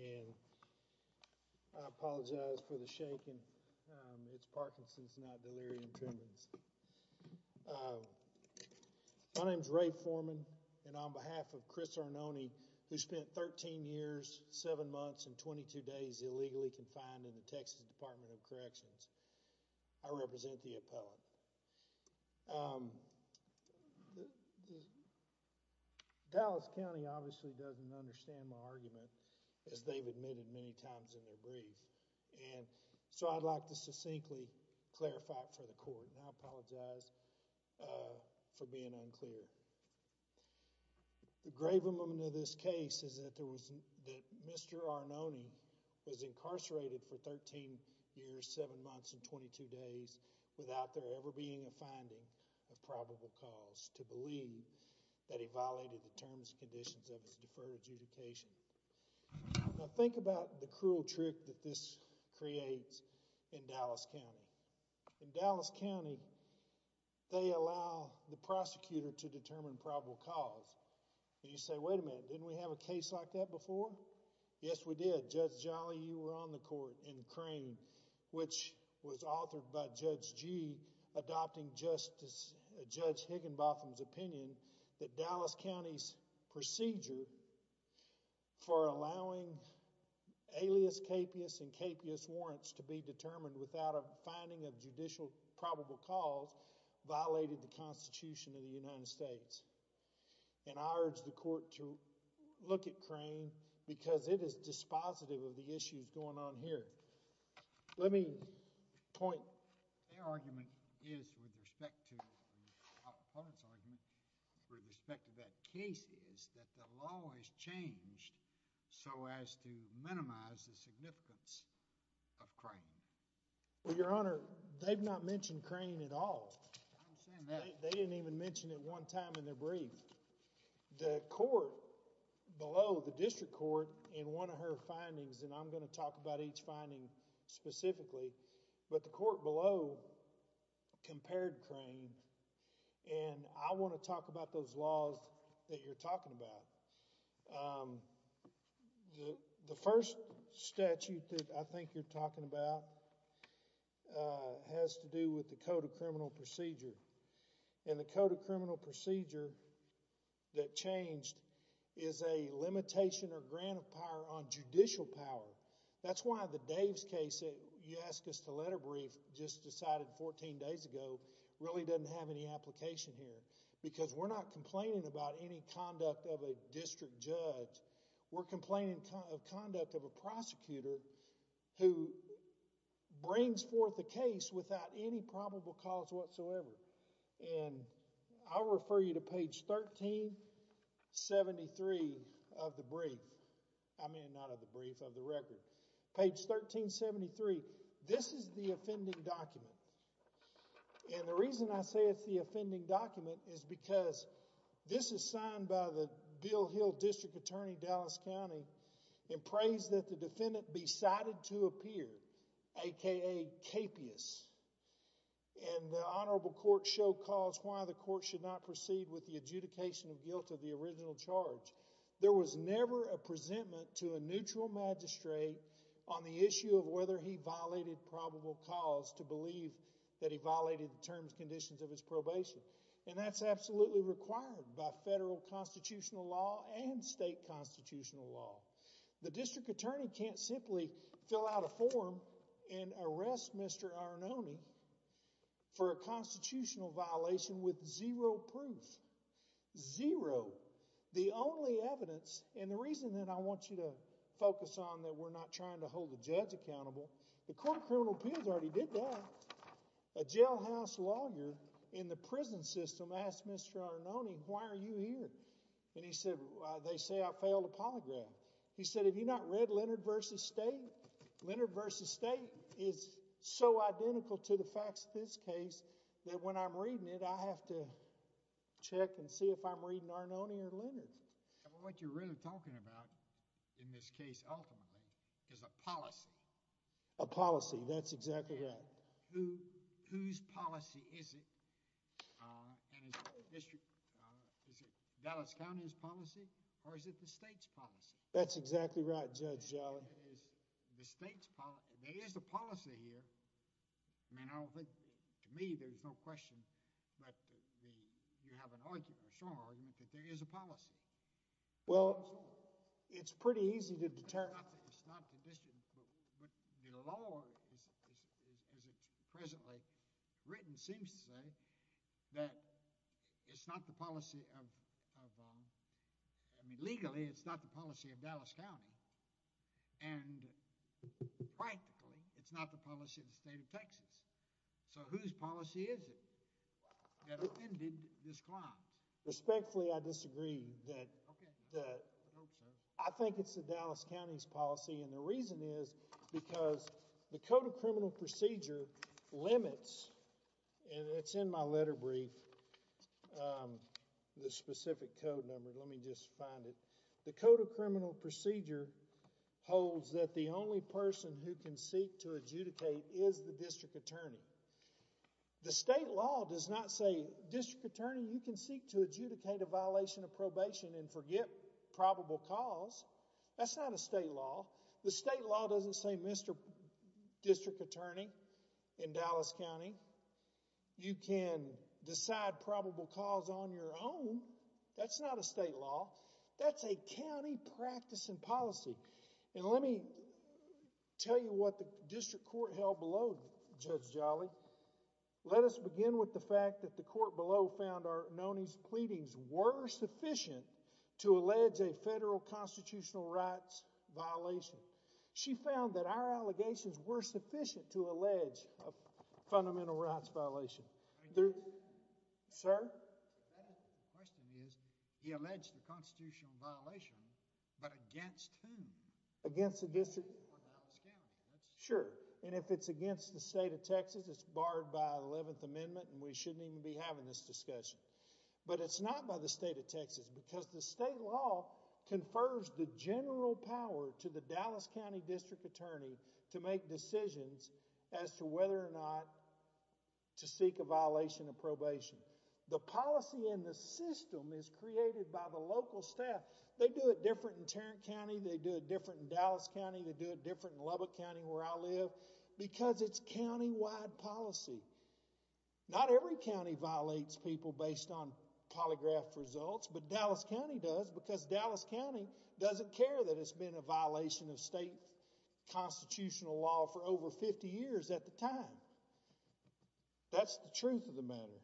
and I apologize for the shaking. It's Parkinson's, not delirium tremens. My name is Ray Foreman and on behalf of Chris Arnone, who spent 13 years, 7 months, and 22 days illegally confined in the Texas Department of Corrections, I represent the appellate. Dallas County obviously doesn't understand my argument, as they've admitted many times in their brief, and so I'd like to succinctly clarify it for the court. And I apologize for being unclear. The grave element of this case is that Mr. Arnone was incarcerated for 13 years, 7 months, and 22 days without there ever being a finding of probable cause to believe that he violated the terms and conditions of his deferred adjudication. Now, think about the cruel trick that this creates in Dallas County. In Dallas County, they allow the prosecutor to determine probable cause. And you say, wait a minute, didn't we have a case like that before? Yes, we did. Judge Jolly, you were on the court in Crane, which was authored by Judge Gee, adopting Justice, Judge Higginbotham's opinion that Dallas County's procedure for allowing alias capias and capias warrants to be determined without a finding of judicial probable cause violated the Constitution of the United States. And I urge the court to look at Crane because it is dispositive of the issues going on here. Let me point... Their argument is, with respect to the opponent's argument, with respect to that case, is that the law is changed so as to minimize the significance of Crane. Well, Your Honor, they've not mentioned Crane at all. I understand that. They didn't even mention it one time in their brief. The court below, the district court, in one of her findings, and I'm going to talk about each finding specifically, but the court below compared Crane. And I want to talk about those laws that you're talking about. The code of criminal procedure that changed is a limitation or grant of power on judicial power. That's why the Dave's case that you asked us to letter brief just decided 14 days ago really doesn't have any application here because we're not complaining about any conduct of a district judge. We're complaining of conduct of a prosecutor who brings forth a case without any probable cause whatsoever. And I'll refer you to page 1373 of the brief. I mean, not of the brief, of the record. Page 1373. This is the offending document. And the reason I say it's the offending document is because this is signed by the Bill Hill District Attorney, Dallas County, and prays that the defendant be cited to appear, a.k.a. capious. And the honorable court show cause why the court should not proceed with the adjudication of guilt of the original charge. There was never a presentment to a neutral magistrate on the issue of whether he violated probable cause to believe that he violated the terms conditions of his probation. And that's absolutely required by federal constitutional law and state constitutional law. The district attorney can't simply fill out a form and arrest Mr. Arnone for a constitutional violation with zero proof. Zero. The only evidence, and the reason that I want you to focus on that we're not trying to hold the judge accountable, the Court of Criminal Appeals already did that. A jailhouse lawyer in the prison system asked Mr. Arnone, why are you here? And he said, they say I failed a polygraph. He said, have you not read Leonard v. State? Leonard v. State is so identical to the facts of this case that when I'm reading it, I have to check and see if I'm reading Arnone or Leonard. What you're really talking about in this case, ultimately, is a policy. A policy. That's exactly right. Whose policy is it? Is it Dallas County's policy, or is it the state's policy? That's exactly right, Judge. There is a policy here. I mean, I don't think, to me, there's no question, but you have an argument, a strong argument, that there is a policy. Well, it's pretty easy to determine. It's not the district, but the law, as it's presently written, seems to say that it's not the policy of, I mean, legally, it's not the policy of Dallas County, and practically, it's not the policy of the state of Texas. So whose policy is it that offended this client? Respectfully, I disagree. I think it's the Dallas County's policy, and the reason is because the Code of Criminal Procedure limits, and it's in my letter brief, the specific code number. Let me just find it. The Code of Criminal Procedure holds that the district attorney, you can seek to adjudicate a violation of probation and forget probable cause. That's not a state law. The state law doesn't say, Mr. District Attorney in Dallas County, you can decide probable cause on your own. That's not a state law. That's a county practice and policy, and let me tell you what the district court held below, Judge Jolly. Let us begin with the fact that the court below found our Noni's pleadings were sufficient to allege a federal constitutional rights violation. She found that our allegations were sufficient to allege a fundamental rights violation. Sir? The question is, he alleged a constitutional violation, but against whom? Against the district court of Dallas County. Sure, and if it's against the state of Texas, it's barred by the 11th Amendment, and we shouldn't even be having this discussion, but it's not by the state of Texas because the state law confers the general power to the Dallas County district attorney to make decisions as to whether or not to seek a violation of probation. The policy and the system is created by the local staff. They do it different in Tarrant County. They do it different in Dallas County. They do it different in Lubbock County where I live because it's countywide policy. Not every county violates people based on polygraphed results, but Dallas County does because Dallas County doesn't care that it's been a violation of state constitutional law for over 50 years at the time. That's the truth of the matter.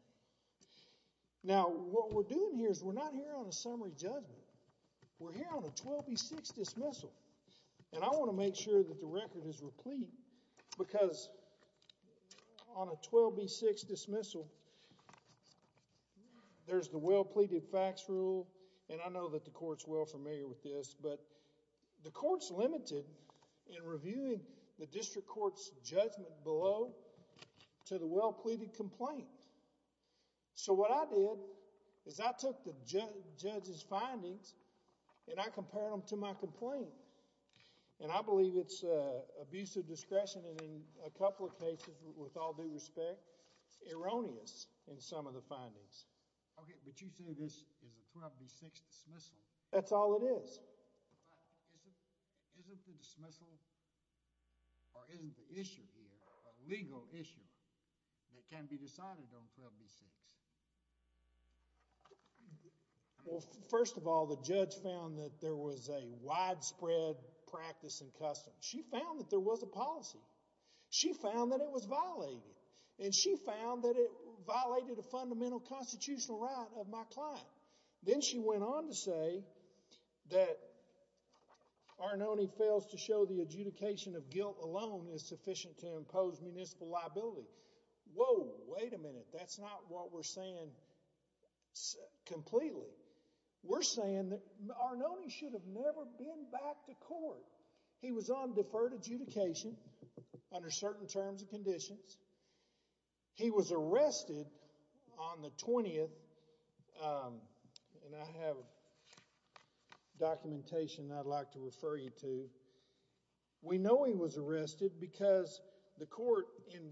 Now, what we're doing here is we're not here on a summary judgment. We're here on a 12B6 dismissal, and I want to make sure that the record is replete because on a 12B6 dismissal, there's the well-pleaded facts rule, and I know that the court's well familiar with this, but the court's limited in reviewing the district court's judgment below to the well-pleaded complaint. So, what I did is I took the judge's findings and I compared them to my complaint, and I believe it's abuse of discretion and in a couple of cases with all due respect erroneous in some of the findings. Okay, but you say this is a 12B6 dismissal. That's all it is. Isn't the dismissal or isn't the issue here a legal issue that can be decided on 12B6? Well, first of all, the judge found that there was a widespread practice and custom. She found that there was a policy. She found that it was violated, and she found that it violated a that Arnone fails to show the adjudication of guilt alone is sufficient to impose municipal liability. Whoa, wait a minute. That's not what we're saying completely. We're saying that Arnone should have never been back to court. He was on deferred adjudication under certain terms and documentation I'd like to refer you to. We know he was arrested because the court in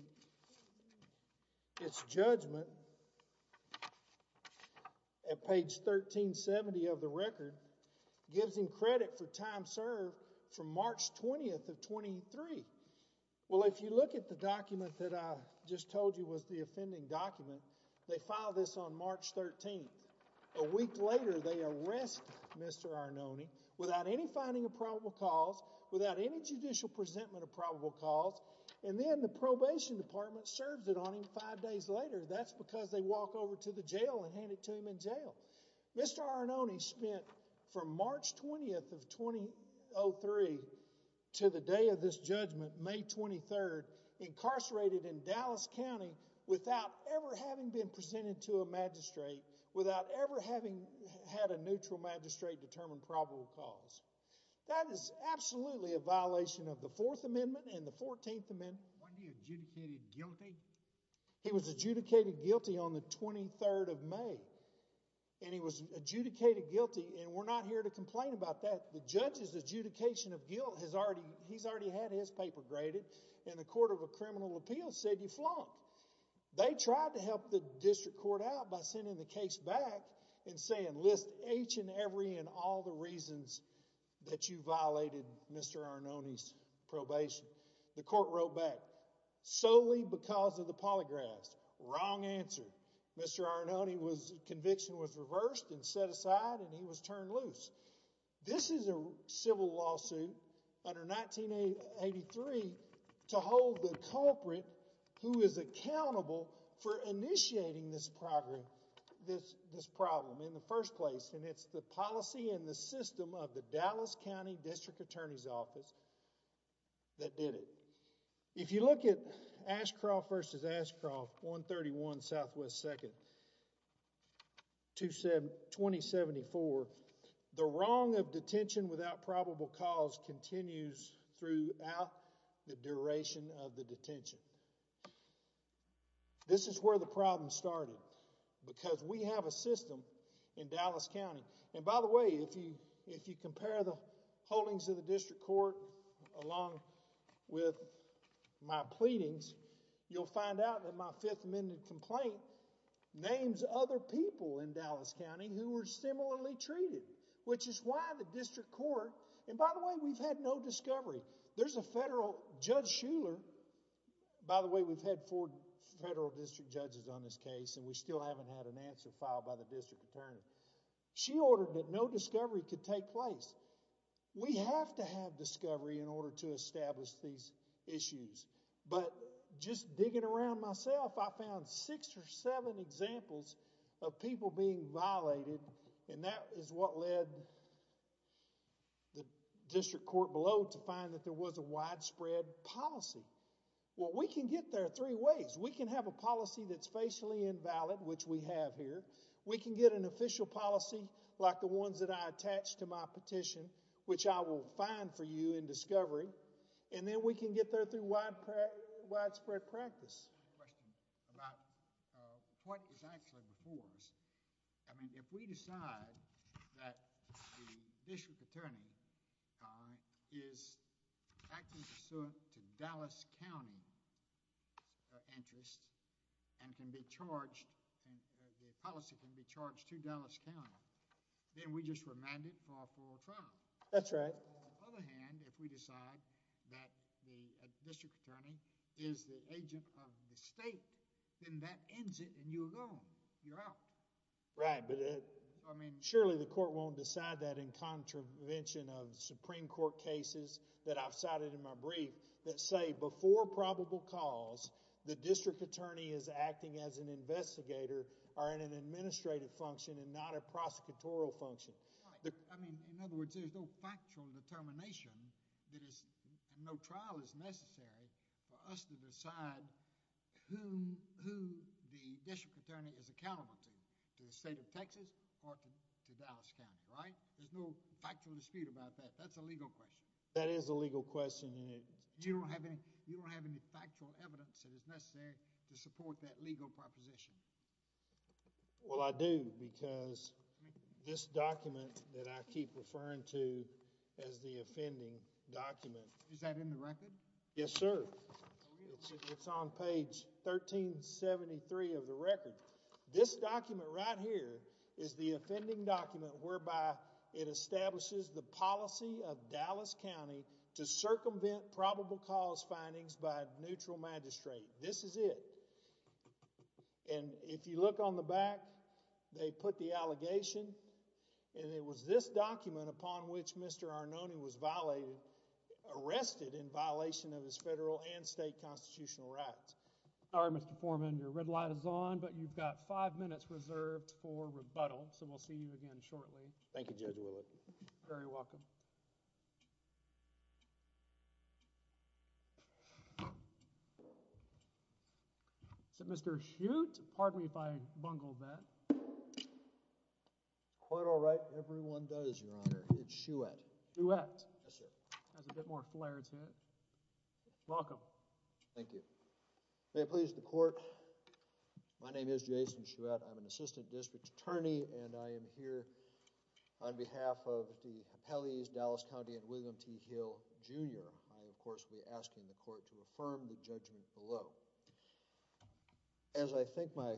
its judgment at page 1370 of the record gives him credit for time served from March 20th of 23. Well, if you look at the document that I just told you was the offending document, they filed this on March 13th. A week later, they arrest Mr. Arnone without any finding of probable cause, without any judicial presentment of probable cause, and then the probation department serves it on him five days later. That's because they walk over to the jail and hand it to him in jail. Mr. Arnone spent from March 20th of 2003 to the day of this judgment, May 23rd, incarcerated in Dallas County without ever having been presented to a magistrate, without ever having had a neutral magistrate determine probable cause. That is absolutely a violation of the Fourth Amendment and the Fourteenth Amendment. Wasn't he adjudicated guilty? He was adjudicated guilty on the 23rd of May, and he was adjudicated guilty, and we're not here to complain about that. The judge's adjudication of guilt has already, he's already had his paper graded, and the court of a criminal appeal said he flunked. They tried to help the district court out by sending the case back and saying, list each and every and all the reasons that you violated Mr. Arnone's probation. The court wrote back, solely because of the polygraphs. Wrong answer. Mr. Arnone's conviction was reversed and set aside, and he was turned loose. This is a civil lawsuit under 1983 to hold the culprit who is accountable for initiating this problem in the first place, and it's the policy and the system of the Dallas County District Attorney's Office that did it. If you look at Ashcroft versus Ashcroft, 131 Southwest 2nd, 2074, the wrong of detention without probable cause continues throughout the duration of the detention. This is where the problem started, because we have a system in Dallas County, and by the way, if you compare the holdings of the district court along with my pleadings, you'll find out that my Fifth Amendment complaint names other people in Dallas County who were similarly treated, which is why the district court, and by the way, we've had no discovery. There's a federal, Judge Shuler, by the way, we've had four federal district judges on this case, and we still haven't had an answer filed by the in order to establish these issues, but just digging around myself, I found six or seven examples of people being violated, and that is what led the district court below to find that there was a widespread policy. Well, we can get there three ways. We can have a policy that's facially invalid, which we have here. We can get an official policy like the ones that I attached to my petition, which I will find for you in discovery, and then we can get there through widespread practice. I have a question about what is actually before us. I mean, if we decide that the district attorney is acting pursuant to Dallas County interests and can be charged, and the policy can be charged to Dallas County, then we just remand it for a full trial. That's right. On the other hand, if we decide that the district attorney is the agent of the state, then that ends it, and you're alone. You're out. Right, but I mean, surely the court won't decide that in contravention of Supreme Court cases that I've cited in my brief that say before probable cause, the district attorney is accountable to the state of Texas or to Dallas County, right? There's no factual dispute about that. That's a legal question. That is a legal question, and you don't have any factual evidence that is necessary to support that legal proposition. Well, I do because this document that I keep referring to as the offending document. Is that in the record? Yes, sir. It's on page 1373 of the record. This document right here is the offending document whereby it establishes the policy of Dallas County to circumvent probable cause findings by neutral magistrate. This is it, and if you look on the back, they put the allegation, and it was this document upon which Mr. Arnone was violated, arrested in violation of his federal and state constitutional rights. All right, Mr. Foreman, your red light is on, but you've got five minutes reserved for rebuttal, so we'll see you again shortly. Thank you, Judge Willett. Very welcome. Is it Mr. Hute? Pardon me if I bungled that. Quite all right. Everyone does, Your Honor. It's Shouette. Shouette. Yes, sir. Has a bit more flair to it. Welcome. Thank you. May it please the Court. My name is Jason Shouette. I'm an assistant district attorney, and I am here on behalf of the appellees, Dallas County and William T. Hill, Jr. I, of course, will be asking the Court to judge me below. As I think my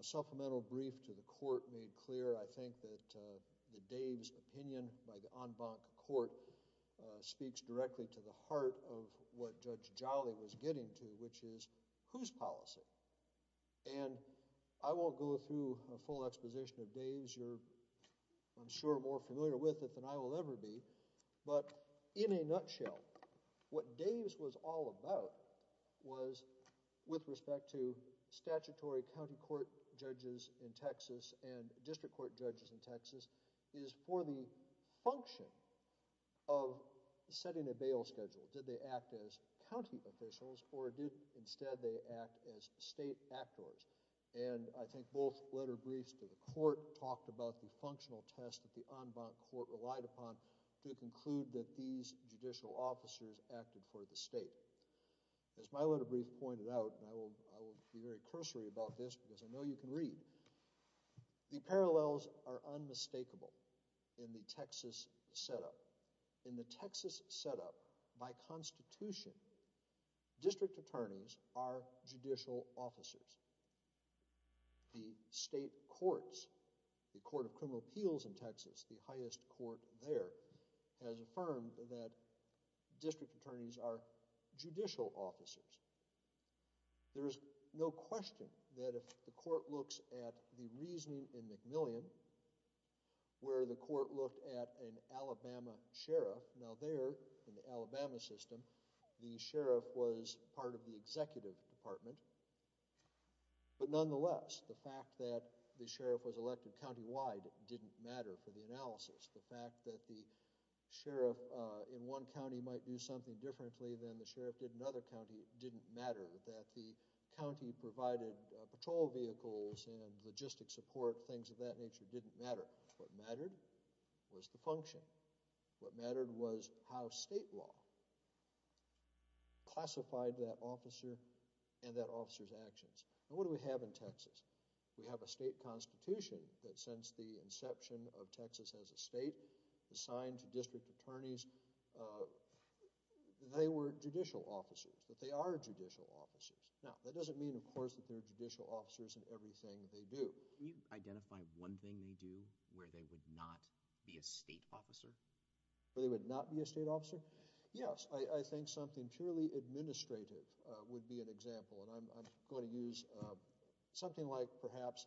supplemental brief to the Court made clear, I think that the Dave's opinion by the en banc Court speaks directly to the heart of what Judge Jolly was getting to, which is whose policy, and I won't go through a full exposition of Dave's. You're, I'm sure, more familiar with it than I will ever be, but in a nutshell, what Dave's was all about was, with respect to statutory county court judges in Texas and district court judges in Texas, is for the function of setting a bail schedule. Did they act as county officials, or did instead they act as state actors? And I think both letter briefs to the Court talked about the functional test that the en banc Court relied upon to conclude that these judicial officers acted for the state. As my letter brief pointed out, and I will be very cursory about this because I know you can read, the parallels are unmistakable in the Texas setup. In the Texas setup, by Constitution, district attorneys are judicial officers. The state courts, the Court of Criminal Appeals in Texas, are judicial officers. There is no question that if the Court looks at the reasoning in McMillian, where the Court looked at an Alabama sheriff, now there in the Alabama system, the sheriff was part of the executive department, but nonetheless, the fact that the sheriff was elected countywide didn't matter for the analysis. The fact that the sheriff in one county might do something differently than the sheriff did in another county didn't matter. That the county provided patrol vehicles and logistic support, things of that nature, didn't matter. What mattered was the function. What mattered was how state law classified that officer and that officer's actions. And what do we have in Texas? We have a state constitution that since the inception of Texas as a state, assigned to district attorneys, they were judicial officers, but they are judicial officers. Now, that doesn't mean, of course, that they're judicial officers in everything they do. Can you identify one thing they do where they would not be a state officer? Where they would not be a state officer? Yes. I think something purely administrative would be an example, and I'm going to use something like perhaps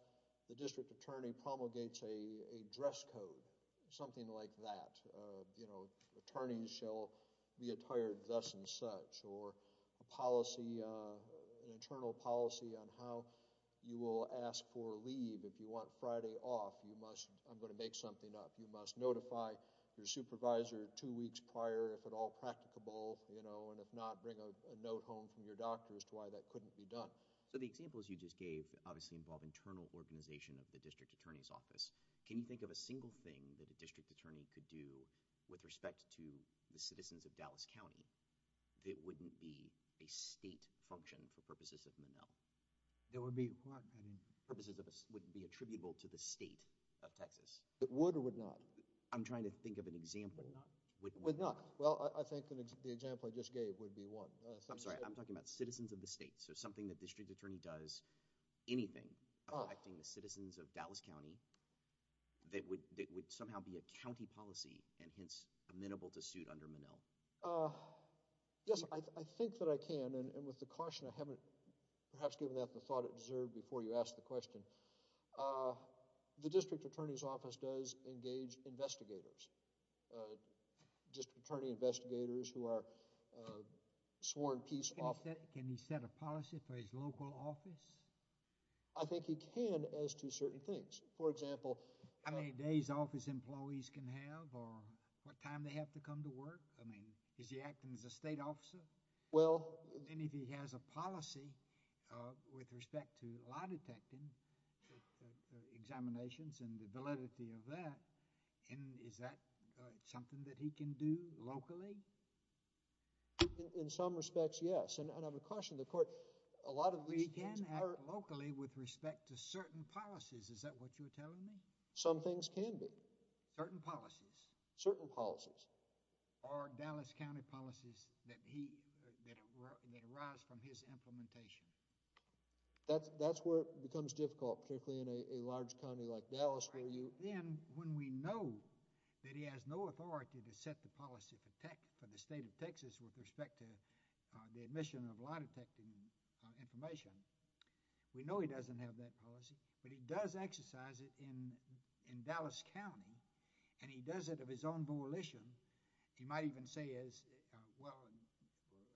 the district attorney promulgates a dress code, something like that. You know, attorneys shall be attired thus and such, or a policy, an internal policy on how you will ask for leave if you want Friday off. You must, I'm going to make something up. You must notify your supervisor two weeks prior if at all practicable, you know, and if not, bring a note home from your doctor as to why that couldn't be done. So the examples you just gave obviously involve internal organization of the district attorney's office. Can you think of a single thing that a district attorney could do with respect to the citizens of Dallas County that wouldn't be a state function for purposes of Monell? That would be what, I mean? Purposes that wouldn't be attributable to the state of Texas. It would or would not? I'm trying to think of an example. Would not. Would not. Well, I think the example I just gave would be one. I'm sorry, I'm talking about citizens of the state, so something that the district attorney does, anything affecting the citizens of Dallas County that would somehow be a county policy and hence amenable to suit under Monell. Yes, I think that I can, and with the caution I haven't perhaps given that the thought it deserved before you asked the question. The district attorney's office does engage investigators, district attorney investigators who are sworn peace officers. Can he set a policy for his local office? I think he can as to certain things. For example, how many days office employees can have or what time they have to come to work? I mean, is he acting as a state officer? Well, and if he has a policy with respect to lie detecting examinations and the validity of that, is that something that he can do locally? In some respects, yes, and I would caution the court, a lot of these things are. He can act locally with respect to certain policies, is that what you're telling me? Some things can be. Certain policies. Certain policies. Or Dallas County policies that he, that arise from his implementation. That's where it becomes difficult, particularly in a large county like Dallas where you. Then when we know that he has no authority to set the policy for tech, for the state of Texas with respect to the admission of lie detecting information, we know he doesn't have that policy, but he does exercise it in, in Dallas County, and he does it of his own volition. He might even say as, well,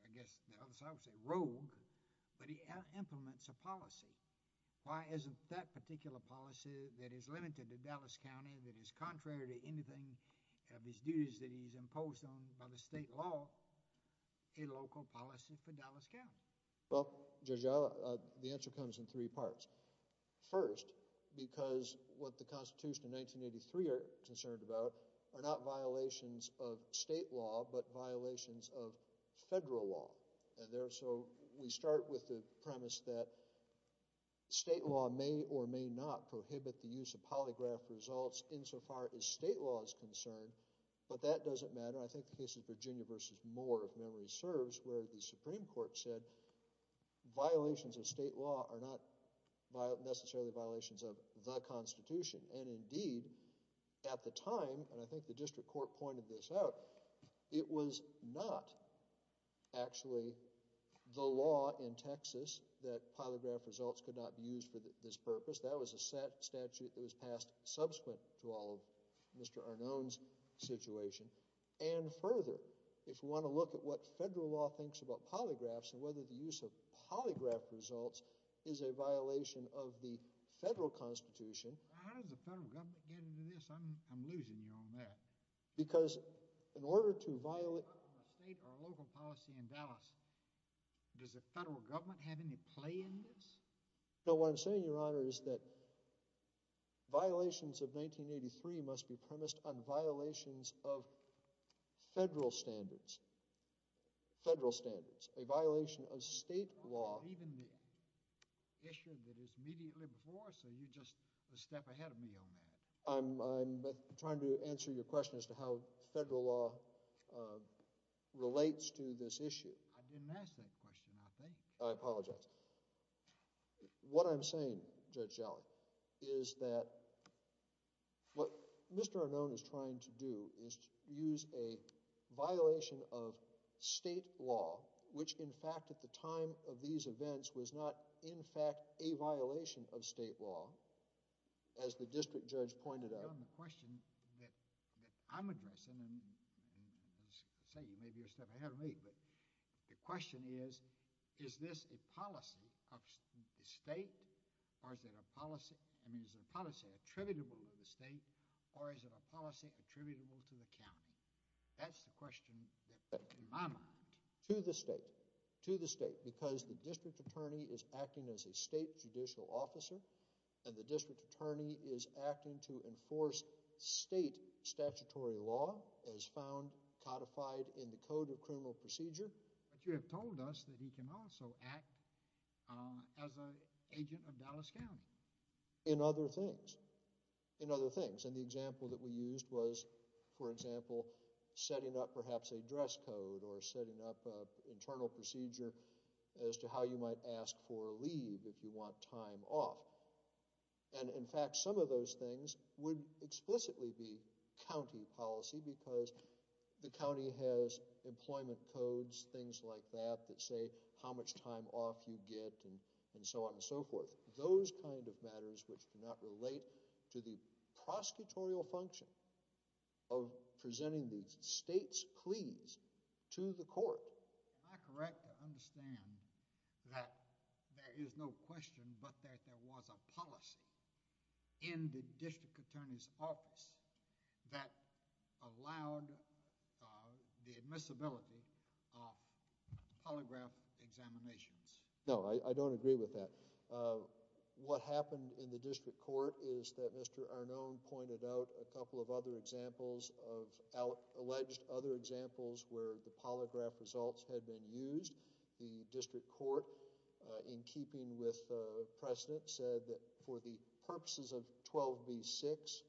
I guess the other side would say rogue, but he implements a policy. Why isn't that particular policy that is limited to Dallas County that is contrary to anything of his duties that he's imposed on by the state law, a local policy for Dallas County? Well, Judge, the answer comes in three parts. First, because what the Constitution of 1983 are concerned about are not violations of state law, but violations of federal law. And there, so we start with the premise that state law may or may not prohibit the use of polygraph results insofar as state law is concerned, but that doesn't matter. I think the case of Virginia versus Moore, if memory serves, where the Supreme Court said violations of state law are not necessarily violations of the Constitution. And indeed, at the time, and I think the district court pointed this out, it was not actually the law in Texas that polygraph results could not be used for this purpose. That was a statute that was passed subsequent to all of Mr. Arnone's situation. And further, if we want to look at what federal law thinks about polygraphs and whether the use of polygraph results is a violation of the federal Constitution. How does the federal government get into this? I'm losing you on that. Because in order to violate state or local policy in Dallas, does the federal government have any play in this? No, what I'm saying, Your Honor, is that violations of 1983 must be premised on violations of federal standards, federal standards, a violation of state law. Even the issue that is immediately before, so you're just a step ahead of me on that. I'm trying to answer your question as to how federal law relates to this issue. I didn't ask that question, I think. I apologize. What I'm saying, Judge Jolly, is that what Mr. Arnone is trying to do is use a violation of state law, as the district judge pointed out. Your Honor, the question that I'm addressing, and say, you may be a step ahead of me, but the question is, is this a policy of the state, or is it a policy, I mean, is the policy attributable to the state, or is it a policy attributable to the county? That's the question that, in my mind. To the state, to the state, because the district attorney is acting as a state judicial officer, and the district attorney is acting to enforce state statutory law, as found codified in the Code of Criminal Procedure. But you have told us that he can also act as an agent of Dallas County. In other things, in other things, and the example that we used was, for example, setting up perhaps a dress code, or setting up an internal procedure as to how you might ask for leave if you want time off. And in fact, some of those things would explicitly be county policy, because the county has employment codes, things like that, that say how much time off you get, and so on and so forth. Those kind of matters which do not relate to the prosecutorial function of presenting the state's policy to the court. Am I correct to understand that there is no question but that there was a policy in the district attorney's office that allowed the admissibility of polygraph examinations? No, I don't agree with that. What happened in the district court is that Mr. Arnone pointed out a couple of other examples of alleged other examples where the polygraph results had been used. The district court, in keeping with precedent, said that for the purposes of 12b-6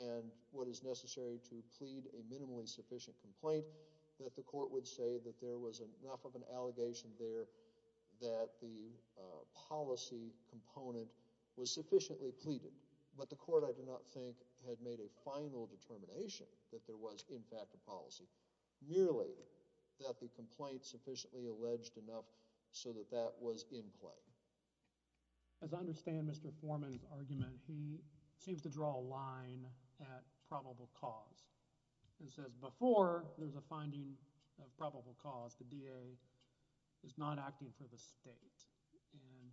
and what is necessary to plead a minimally sufficient complaint, that the court would say that there was enough of an allegation there that the policy component was sufficiently pleaded. But the court, I do not think, had made a final determination that there was, in fact, a policy, merely that the complaint sufficiently alleged enough so that that was in play. As I understand Mr. Foreman's argument, he seems to draw a line at probable cause and says before there's a finding of probable cause, the DA is not acting for the state. And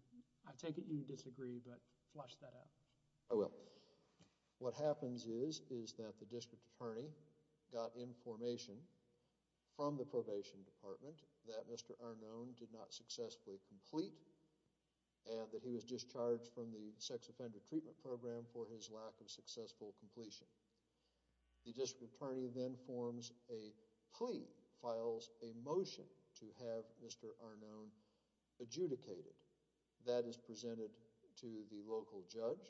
I take it you disagree, but flush that out. I will. What happens is, is that the district attorney got information from the probation department that Mr. Arnone did not successfully complete and that he was discharged from the sex offender treatment program for his lack of successful completion. The district attorney then forms a plea, files a motion to have Mr. Arnone adjudicated. That is presented to the local judge.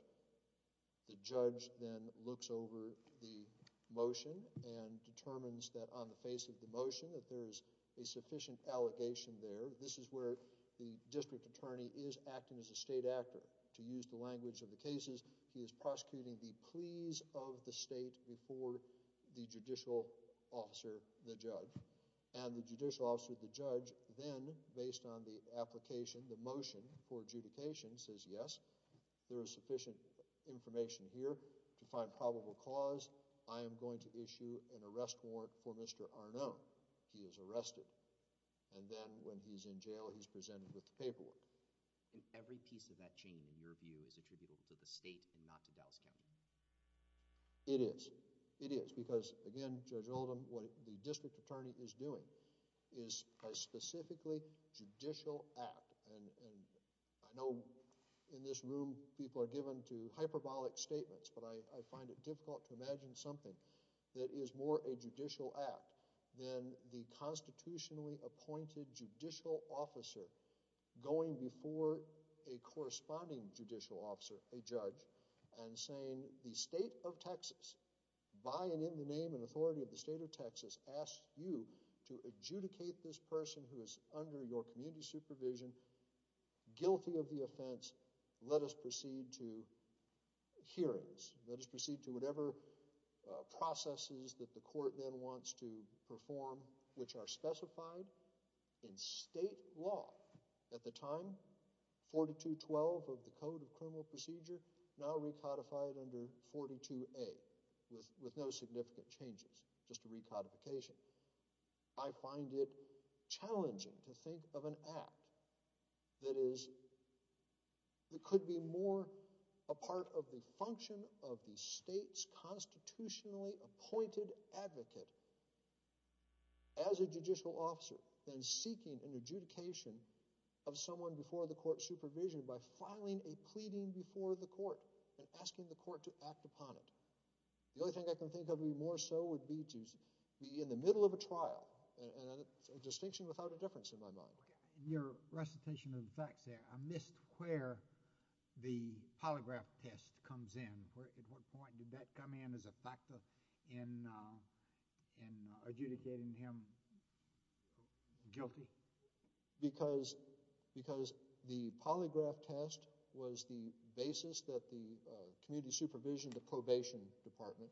The judge then looks over the motion and determines that on the face of the motion that there is a sufficient allegation there. This is where the district attorney is acting as a state actor. To use the language of the cases, he is prosecuting the pleas of the state before the judicial officer, the judge. And the judicial for adjudication says, yes, there is sufficient information here to find probable cause. I am going to issue an arrest warrant for Mr. Arnone. He is arrested. And then when he's in jail, he's presented with the paperwork. Every piece of that chain, in your view, is attributable to the state and not to Dallas County. It is. It is. Because again, Judge Oldham, what the district attorney is doing is a specifically judicial act. And I know in this room, people are given to hyperbolic statements, but I find it difficult to imagine something that is more a judicial act than the constitutionally appointed judicial officer going before a corresponding judicial officer, a judge, and saying the state of Texas, by and in the name and authority of the state of Texas, asks you to adjudicate this person who is under your community supervision, guilty of the offense. Let us proceed to hearings. Let us proceed to whatever processes that the court then wants to perform, which are specified in state law at the time. 4212 of the Code of Criminal Procedure, now recodified under 42A, with no significant changes, just a recodification. I find it challenging to think of an act that is, that could be more a part of the function of the state's constitutionally appointed advocate as a judicial officer than seeking an adjudication of someone before the court supervision by filing a pleading before the court and asking the court to act upon it. The only thing I can think of that would be more so would be to be in the middle of a trial, and a distinction without a difference in my mind. In your recitation of the facts there, I missed where the polygraph test comes in. At what point did that come in as a factor in adjudicating him guilty? Because the polygraph test was the basis that the community supervision to probation department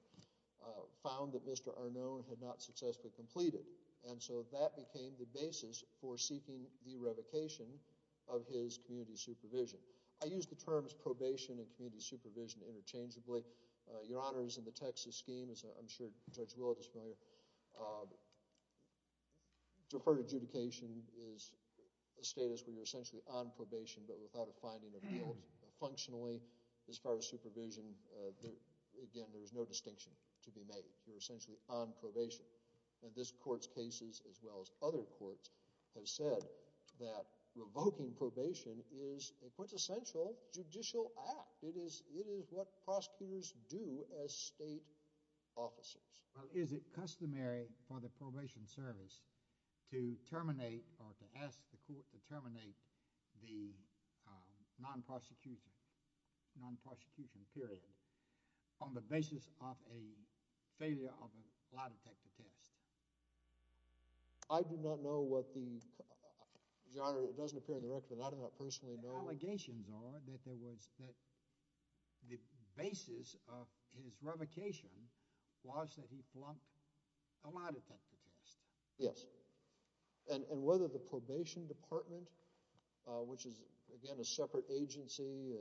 found that Mr. Arnone had not successfully completed, and so that became the basis for seeking the revocation of his community supervision. I use the terms probation and community supervision interchangeably. Your Honors, in the Texas scheme, as I'm sure Judge Willett is familiar, deferred adjudication is a status where you're essentially on probation but without a finding of guilt. Functionally, as far as supervision, again, there is no distinction to be made. You're essentially on probation, and this court's cases, as well as other courts, have said that revoking probation is a quintessential judicial act. It is what prosecutors do as state officers. Well, is it customary for the probation service to terminate or to ask the court to terminate the non-prosecution period on the basis of a failure of a lie detector test? I do not know what the, Your Honor, it doesn't appear in the record, but I do not personally know. Allegations are that there was, that the basis of his revocation was that he plumped a lie detector test. Yes, and whether the probation department, which is, again, a separate agency,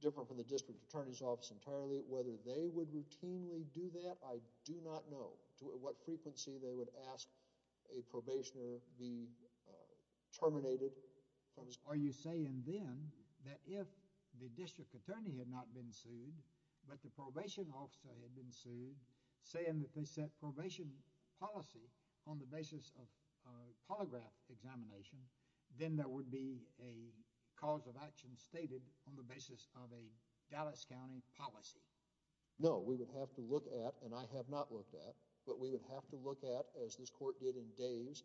different from the district attorney's office entirely, whether they would routinely do that, I do not know to what frequency they would ask a probationer be terminated. Are you saying then that if the district attorney had not been sued, but the probation officer had been sued, saying that they set probation policy on the basis of a polygraph examination, then there would be a cause of action stated on the basis of a Dallas County policy? No, we would have to look at, and I have not looked at, but we would have to look at, as this court did in Dave's,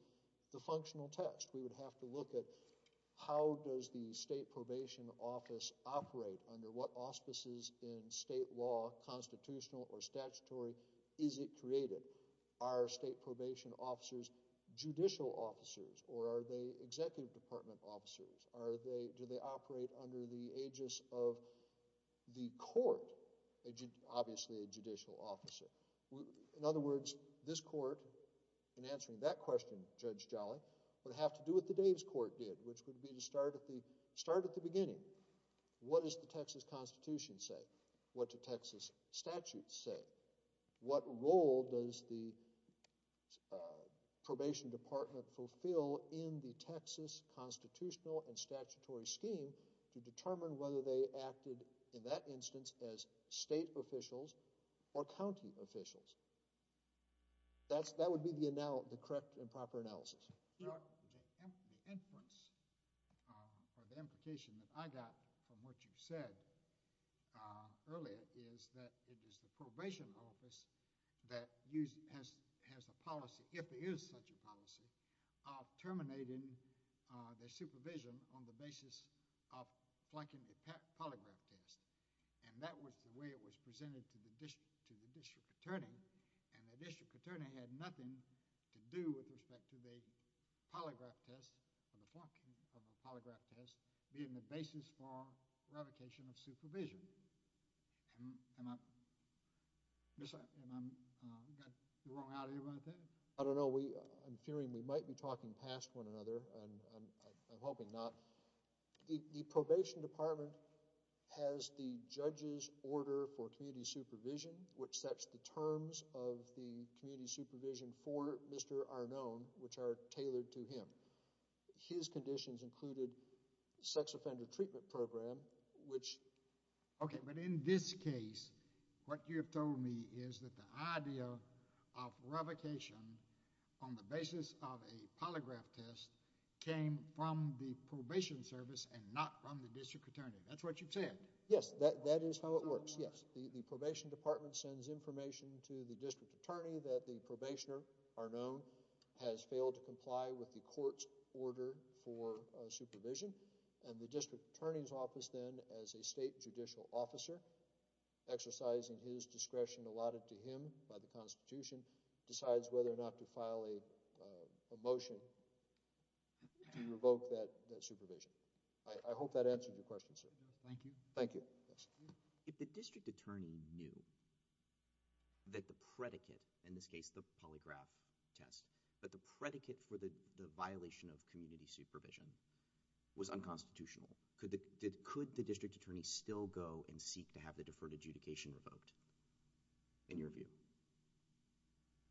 the functional test. We would have to look at how does the state probation office operate under what auspices in state law, constitutional or statutory, is it created? Are state probation officers judicial officers, or are they executive department officers? Do they operate under the aegis of the court, obviously a judicial officer? In other words, this court, in answering that question, Judge Jolly, would have to do what the Dave's court did, which would be to start at the beginning. What does the Texas Constitution say? What do Texas statutes say? What role does the probation department fulfill in the Texas constitutional and statutory scheme to determine whether they acted, in that instance, as state officials or county officials? That would be the correct and proper analysis. The inference, or the implication that I got from what you said earlier is that it is the state department that is determining their supervision on the basis of flunking a polygraph test, and that was the way it was presented to the district attorney, and the district attorney had nothing to do with respect to the polygraph test, or the flunking of a polygraph test, being the basis for revocation of supervision. And I'm, and I'm, I got the wrong idea about that? I don't know, we, I'm fearing we might be talking past one another, and I'm, I'm hoping not. The probation department has the judge's order for community supervision, which sets the terms of the community supervision for Mr. Arnone, which are tailored to him. His conditions included sex offender treatment program, which... Okay, but in this case, what you have told me is that the idea of revocation on the basis of a polygraph test came from the probation service and not from the district attorney. That's what you said. Yes, that, that is how it works. Yes, the probation department sends information to the district attorney that the probationer, Arnone, has failed to comply with the court's order for supervision, and the district attorney's as a state judicial officer, exercising his discretion allotted to him by the Constitution, decides whether or not to file a motion to revoke that supervision. I hope that answered your question, sir. Thank you. Thank you. Yes. If the district attorney knew that the predicate, in this case, the polygraph test, that the predicate for the violation of community supervision was unconstitutional, could the, could the district attorney still go and seek to have the deferred adjudication revoked, in your view?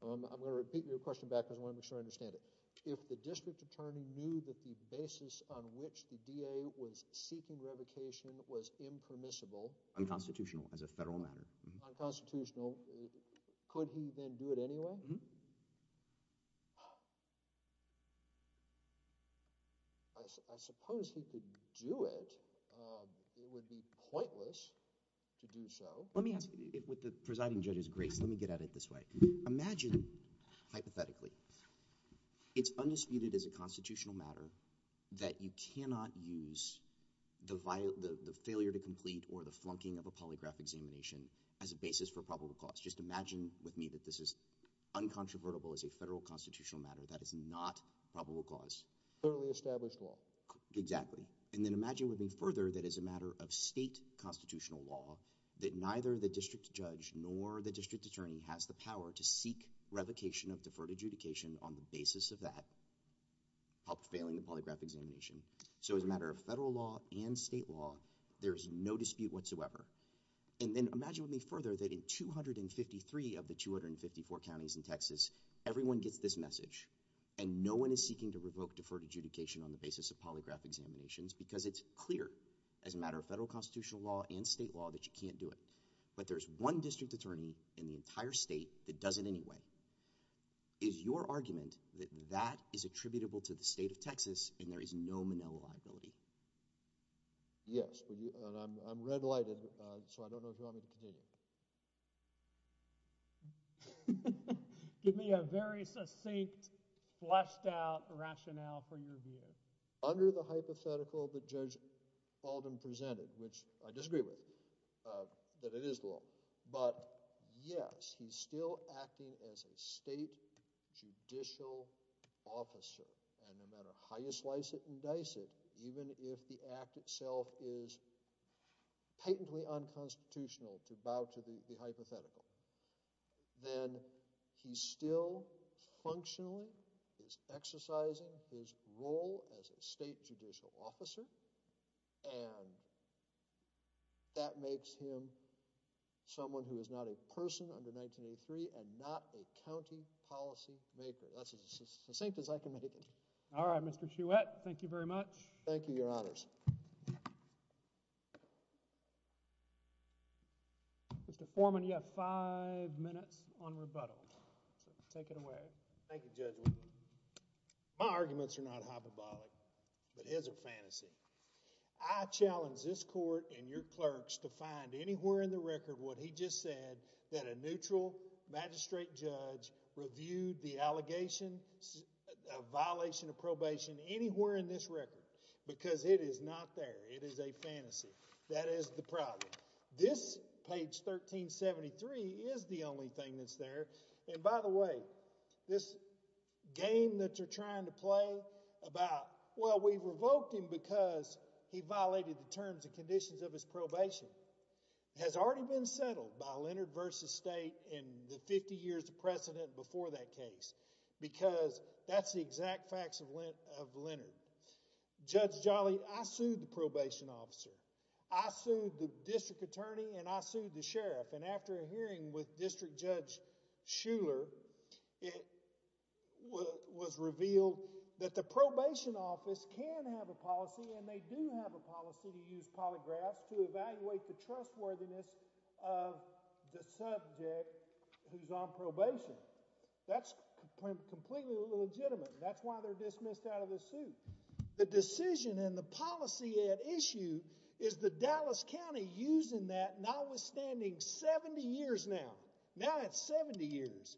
I'm going to repeat your question back, because I want to make sure I understand it. If the district attorney knew that the basis on which the DA was seeking revocation was impermissible... Unconstitutional as a federal matter. Unconstitutional. Could he then do it anyway? I suppose he could do it. It would be pointless to do so. Let me ask you, with the presiding judge's grace, let me get at it this way. Imagine, hypothetically, it's undisputed as a constitutional matter that you cannot use the failure to complete or the flunking of a polygraph examination as a basis for probable cause. Just imagine with me that this is uncontrovertible as a federal constitutional matter. That is not probable cause. Thoroughly established law. Exactly. And then imagine with me further that as a matter of state constitutional law, that neither the district judge nor the district attorney has the power to seek revocation of deferred adjudication on the basis of that, failing the polygraph examination. So as a matter of federal law and state law, there's no dispute whatsoever. And then imagine with me further that in 253 of the 254 counties in Texas, everyone gets this message. And no one is seeking to revoke deferred adjudication on the basis of polygraph examinations, because it's clear as a matter of federal constitutional law and state law that you can't do it. But there's one district attorney in the entire state that there is no Manila liability. Yes. I'm red lighted, so I don't know if you want me to continue. Give me a very succinct, fleshed out rationale for your view. Under the hypothetical that Judge Baldwin presented, which I disagree with, that it is law. But yes, he's still acting as a state judicial officer. And no matter how you slice it and dice it, even if the act itself is patently unconstitutional to bow to the hypothetical, then he still functionally is exercising his role as a state judicial officer. And that makes him someone who is not a person under 1983 and not a county policy maker. That's as succinct as I can make it. All right, Mr. Chuet. Thank you very much. Thank you, Your Honors. Mr. Foreman, you have five minutes on rebuttal. Take it away. Thank you, Judge. My arguments are not hyperbolic, but his are fantasy. I challenge this court and your clerks to find anywhere in the record what he just said, that a neutral magistrate judge reviewed the allegation of violation of probation anywhere in this record, because it is not there. It is a fantasy. That is the problem. This, page 1373, is the only thing that's there. And by the way, this game that you're trying to play about, well, we've revoked him because he violated the terms and conditions of his probation, has already been settled by Leonard v. State in the 50 years of precedent before that case, because that's the exact facts of Leonard. Judge Jolly, I sued the probation officer. I sued the district attorney, and I sued the sheriff. And after a hearing with District Judge Shuler, it was revealed that the probation office can have a policy, and they do have a policy, to use polygraphs to evaluate the trustworthiness of the subject who's on probation. That's completely illegitimate. That's why they're dismissed out of the suit. The decision and the policy at issue is the Dallas County using that, notwithstanding 70 years now. Now it's 70 years.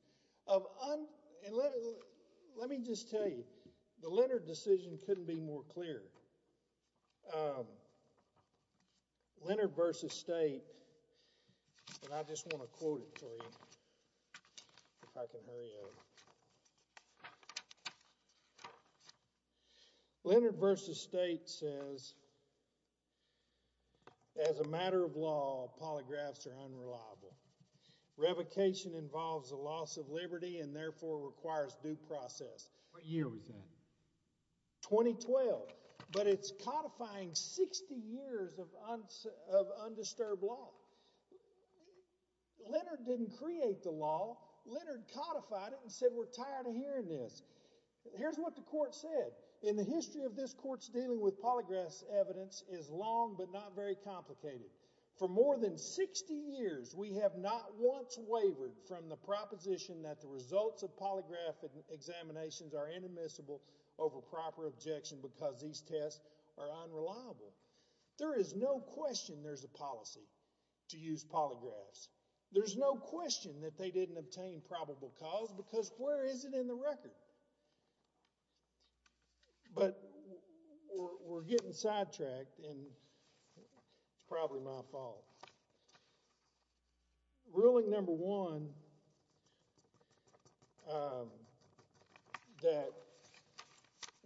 Let me just tell you, the Leonard decision couldn't be more clear. Leonard v. State, and I just want to quote it for you, if I can hurry up. Leonard v. State says, As a matter of law, polygraphs are unreliable. Revocation involves a loss of liberty and therefore requires due process. What year was that? 2012. But it's codifying 60 years of undisturbed law. Leonard didn't create the law. Leonard codified it and said, we're tired of hearing this. Here's what the court said. In the history of this court's dealing with polygraphs, evidence is long but not very complicated. For more than 60 years, we have not once wavered from the proposition that the results of polygraph examinations are inadmissible over proper objection because these tests are unreliable. There is no question there's a policy to use polygraphs. There's no question that they didn't obtain probable cause because where is it in the record? But we're getting sidetracked and it's probably my fault. Ruling number one that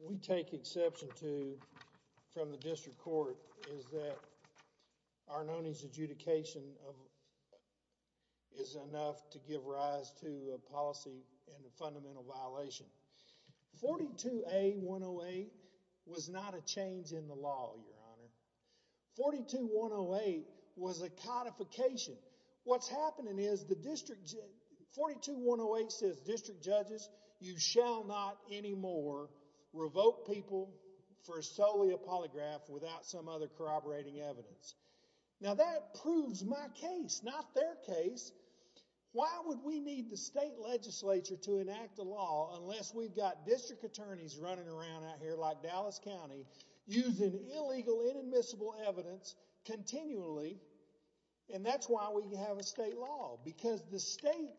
we take exception to from the district court is that Arnone's adjudication of is enough to give rise to a policy and a fundamental violation. 42A108 was not a change in the law, your honor. 42108 was a codification. What's happening is the district 42108 says district judges, you shall not anymore revoke people for solely a polygraph without some other evidence. Now that proves my case, not their case. Why would we need the state legislature to enact a law unless we've got district attorneys running around out here like Dallas County using illegal inadmissible evidence continually and that's why we have a state law because the state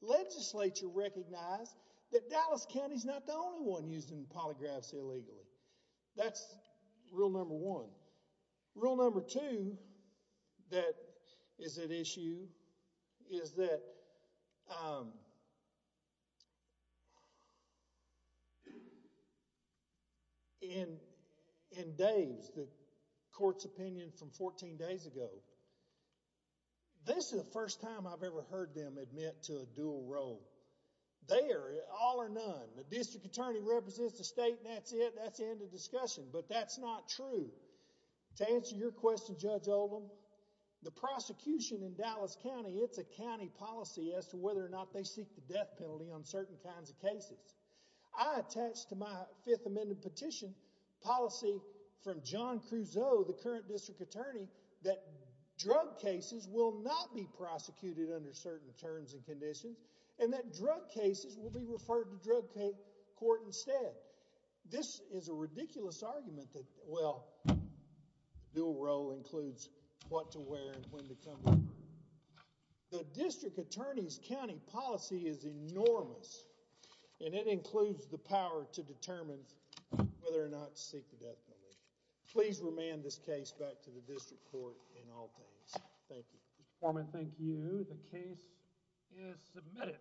legislature recognized that Dallas County is not the only one using polygraphs illegally. That's rule number one. Rule number two that is at issue is that in Dave's, the court's opinion from 14 days ago, this is the first time I've ever heard them admit to a dual role. They are all or none. The district attorney represents the state and that's it. That's the end of discussion but that's not true. To answer your question, Judge Oldham, the prosecution in Dallas County, it's a county policy as to whether or not they seek the death penalty on certain kinds of cases. I attached to my fifth amendment petition policy from John Crusoe, the current district attorney, that drug cases will not be prosecuted under certain terms and drug cases will be referred to drug court instead. This is a ridiculous argument that, well, dual role includes what to wear and when to come over. The district attorney's county policy is enormous and it includes the power to determine whether or not to seek the death penalty. Please remand this case back to the district court in all things. Thank you. Mr. Foreman, thank you. The case is submitted.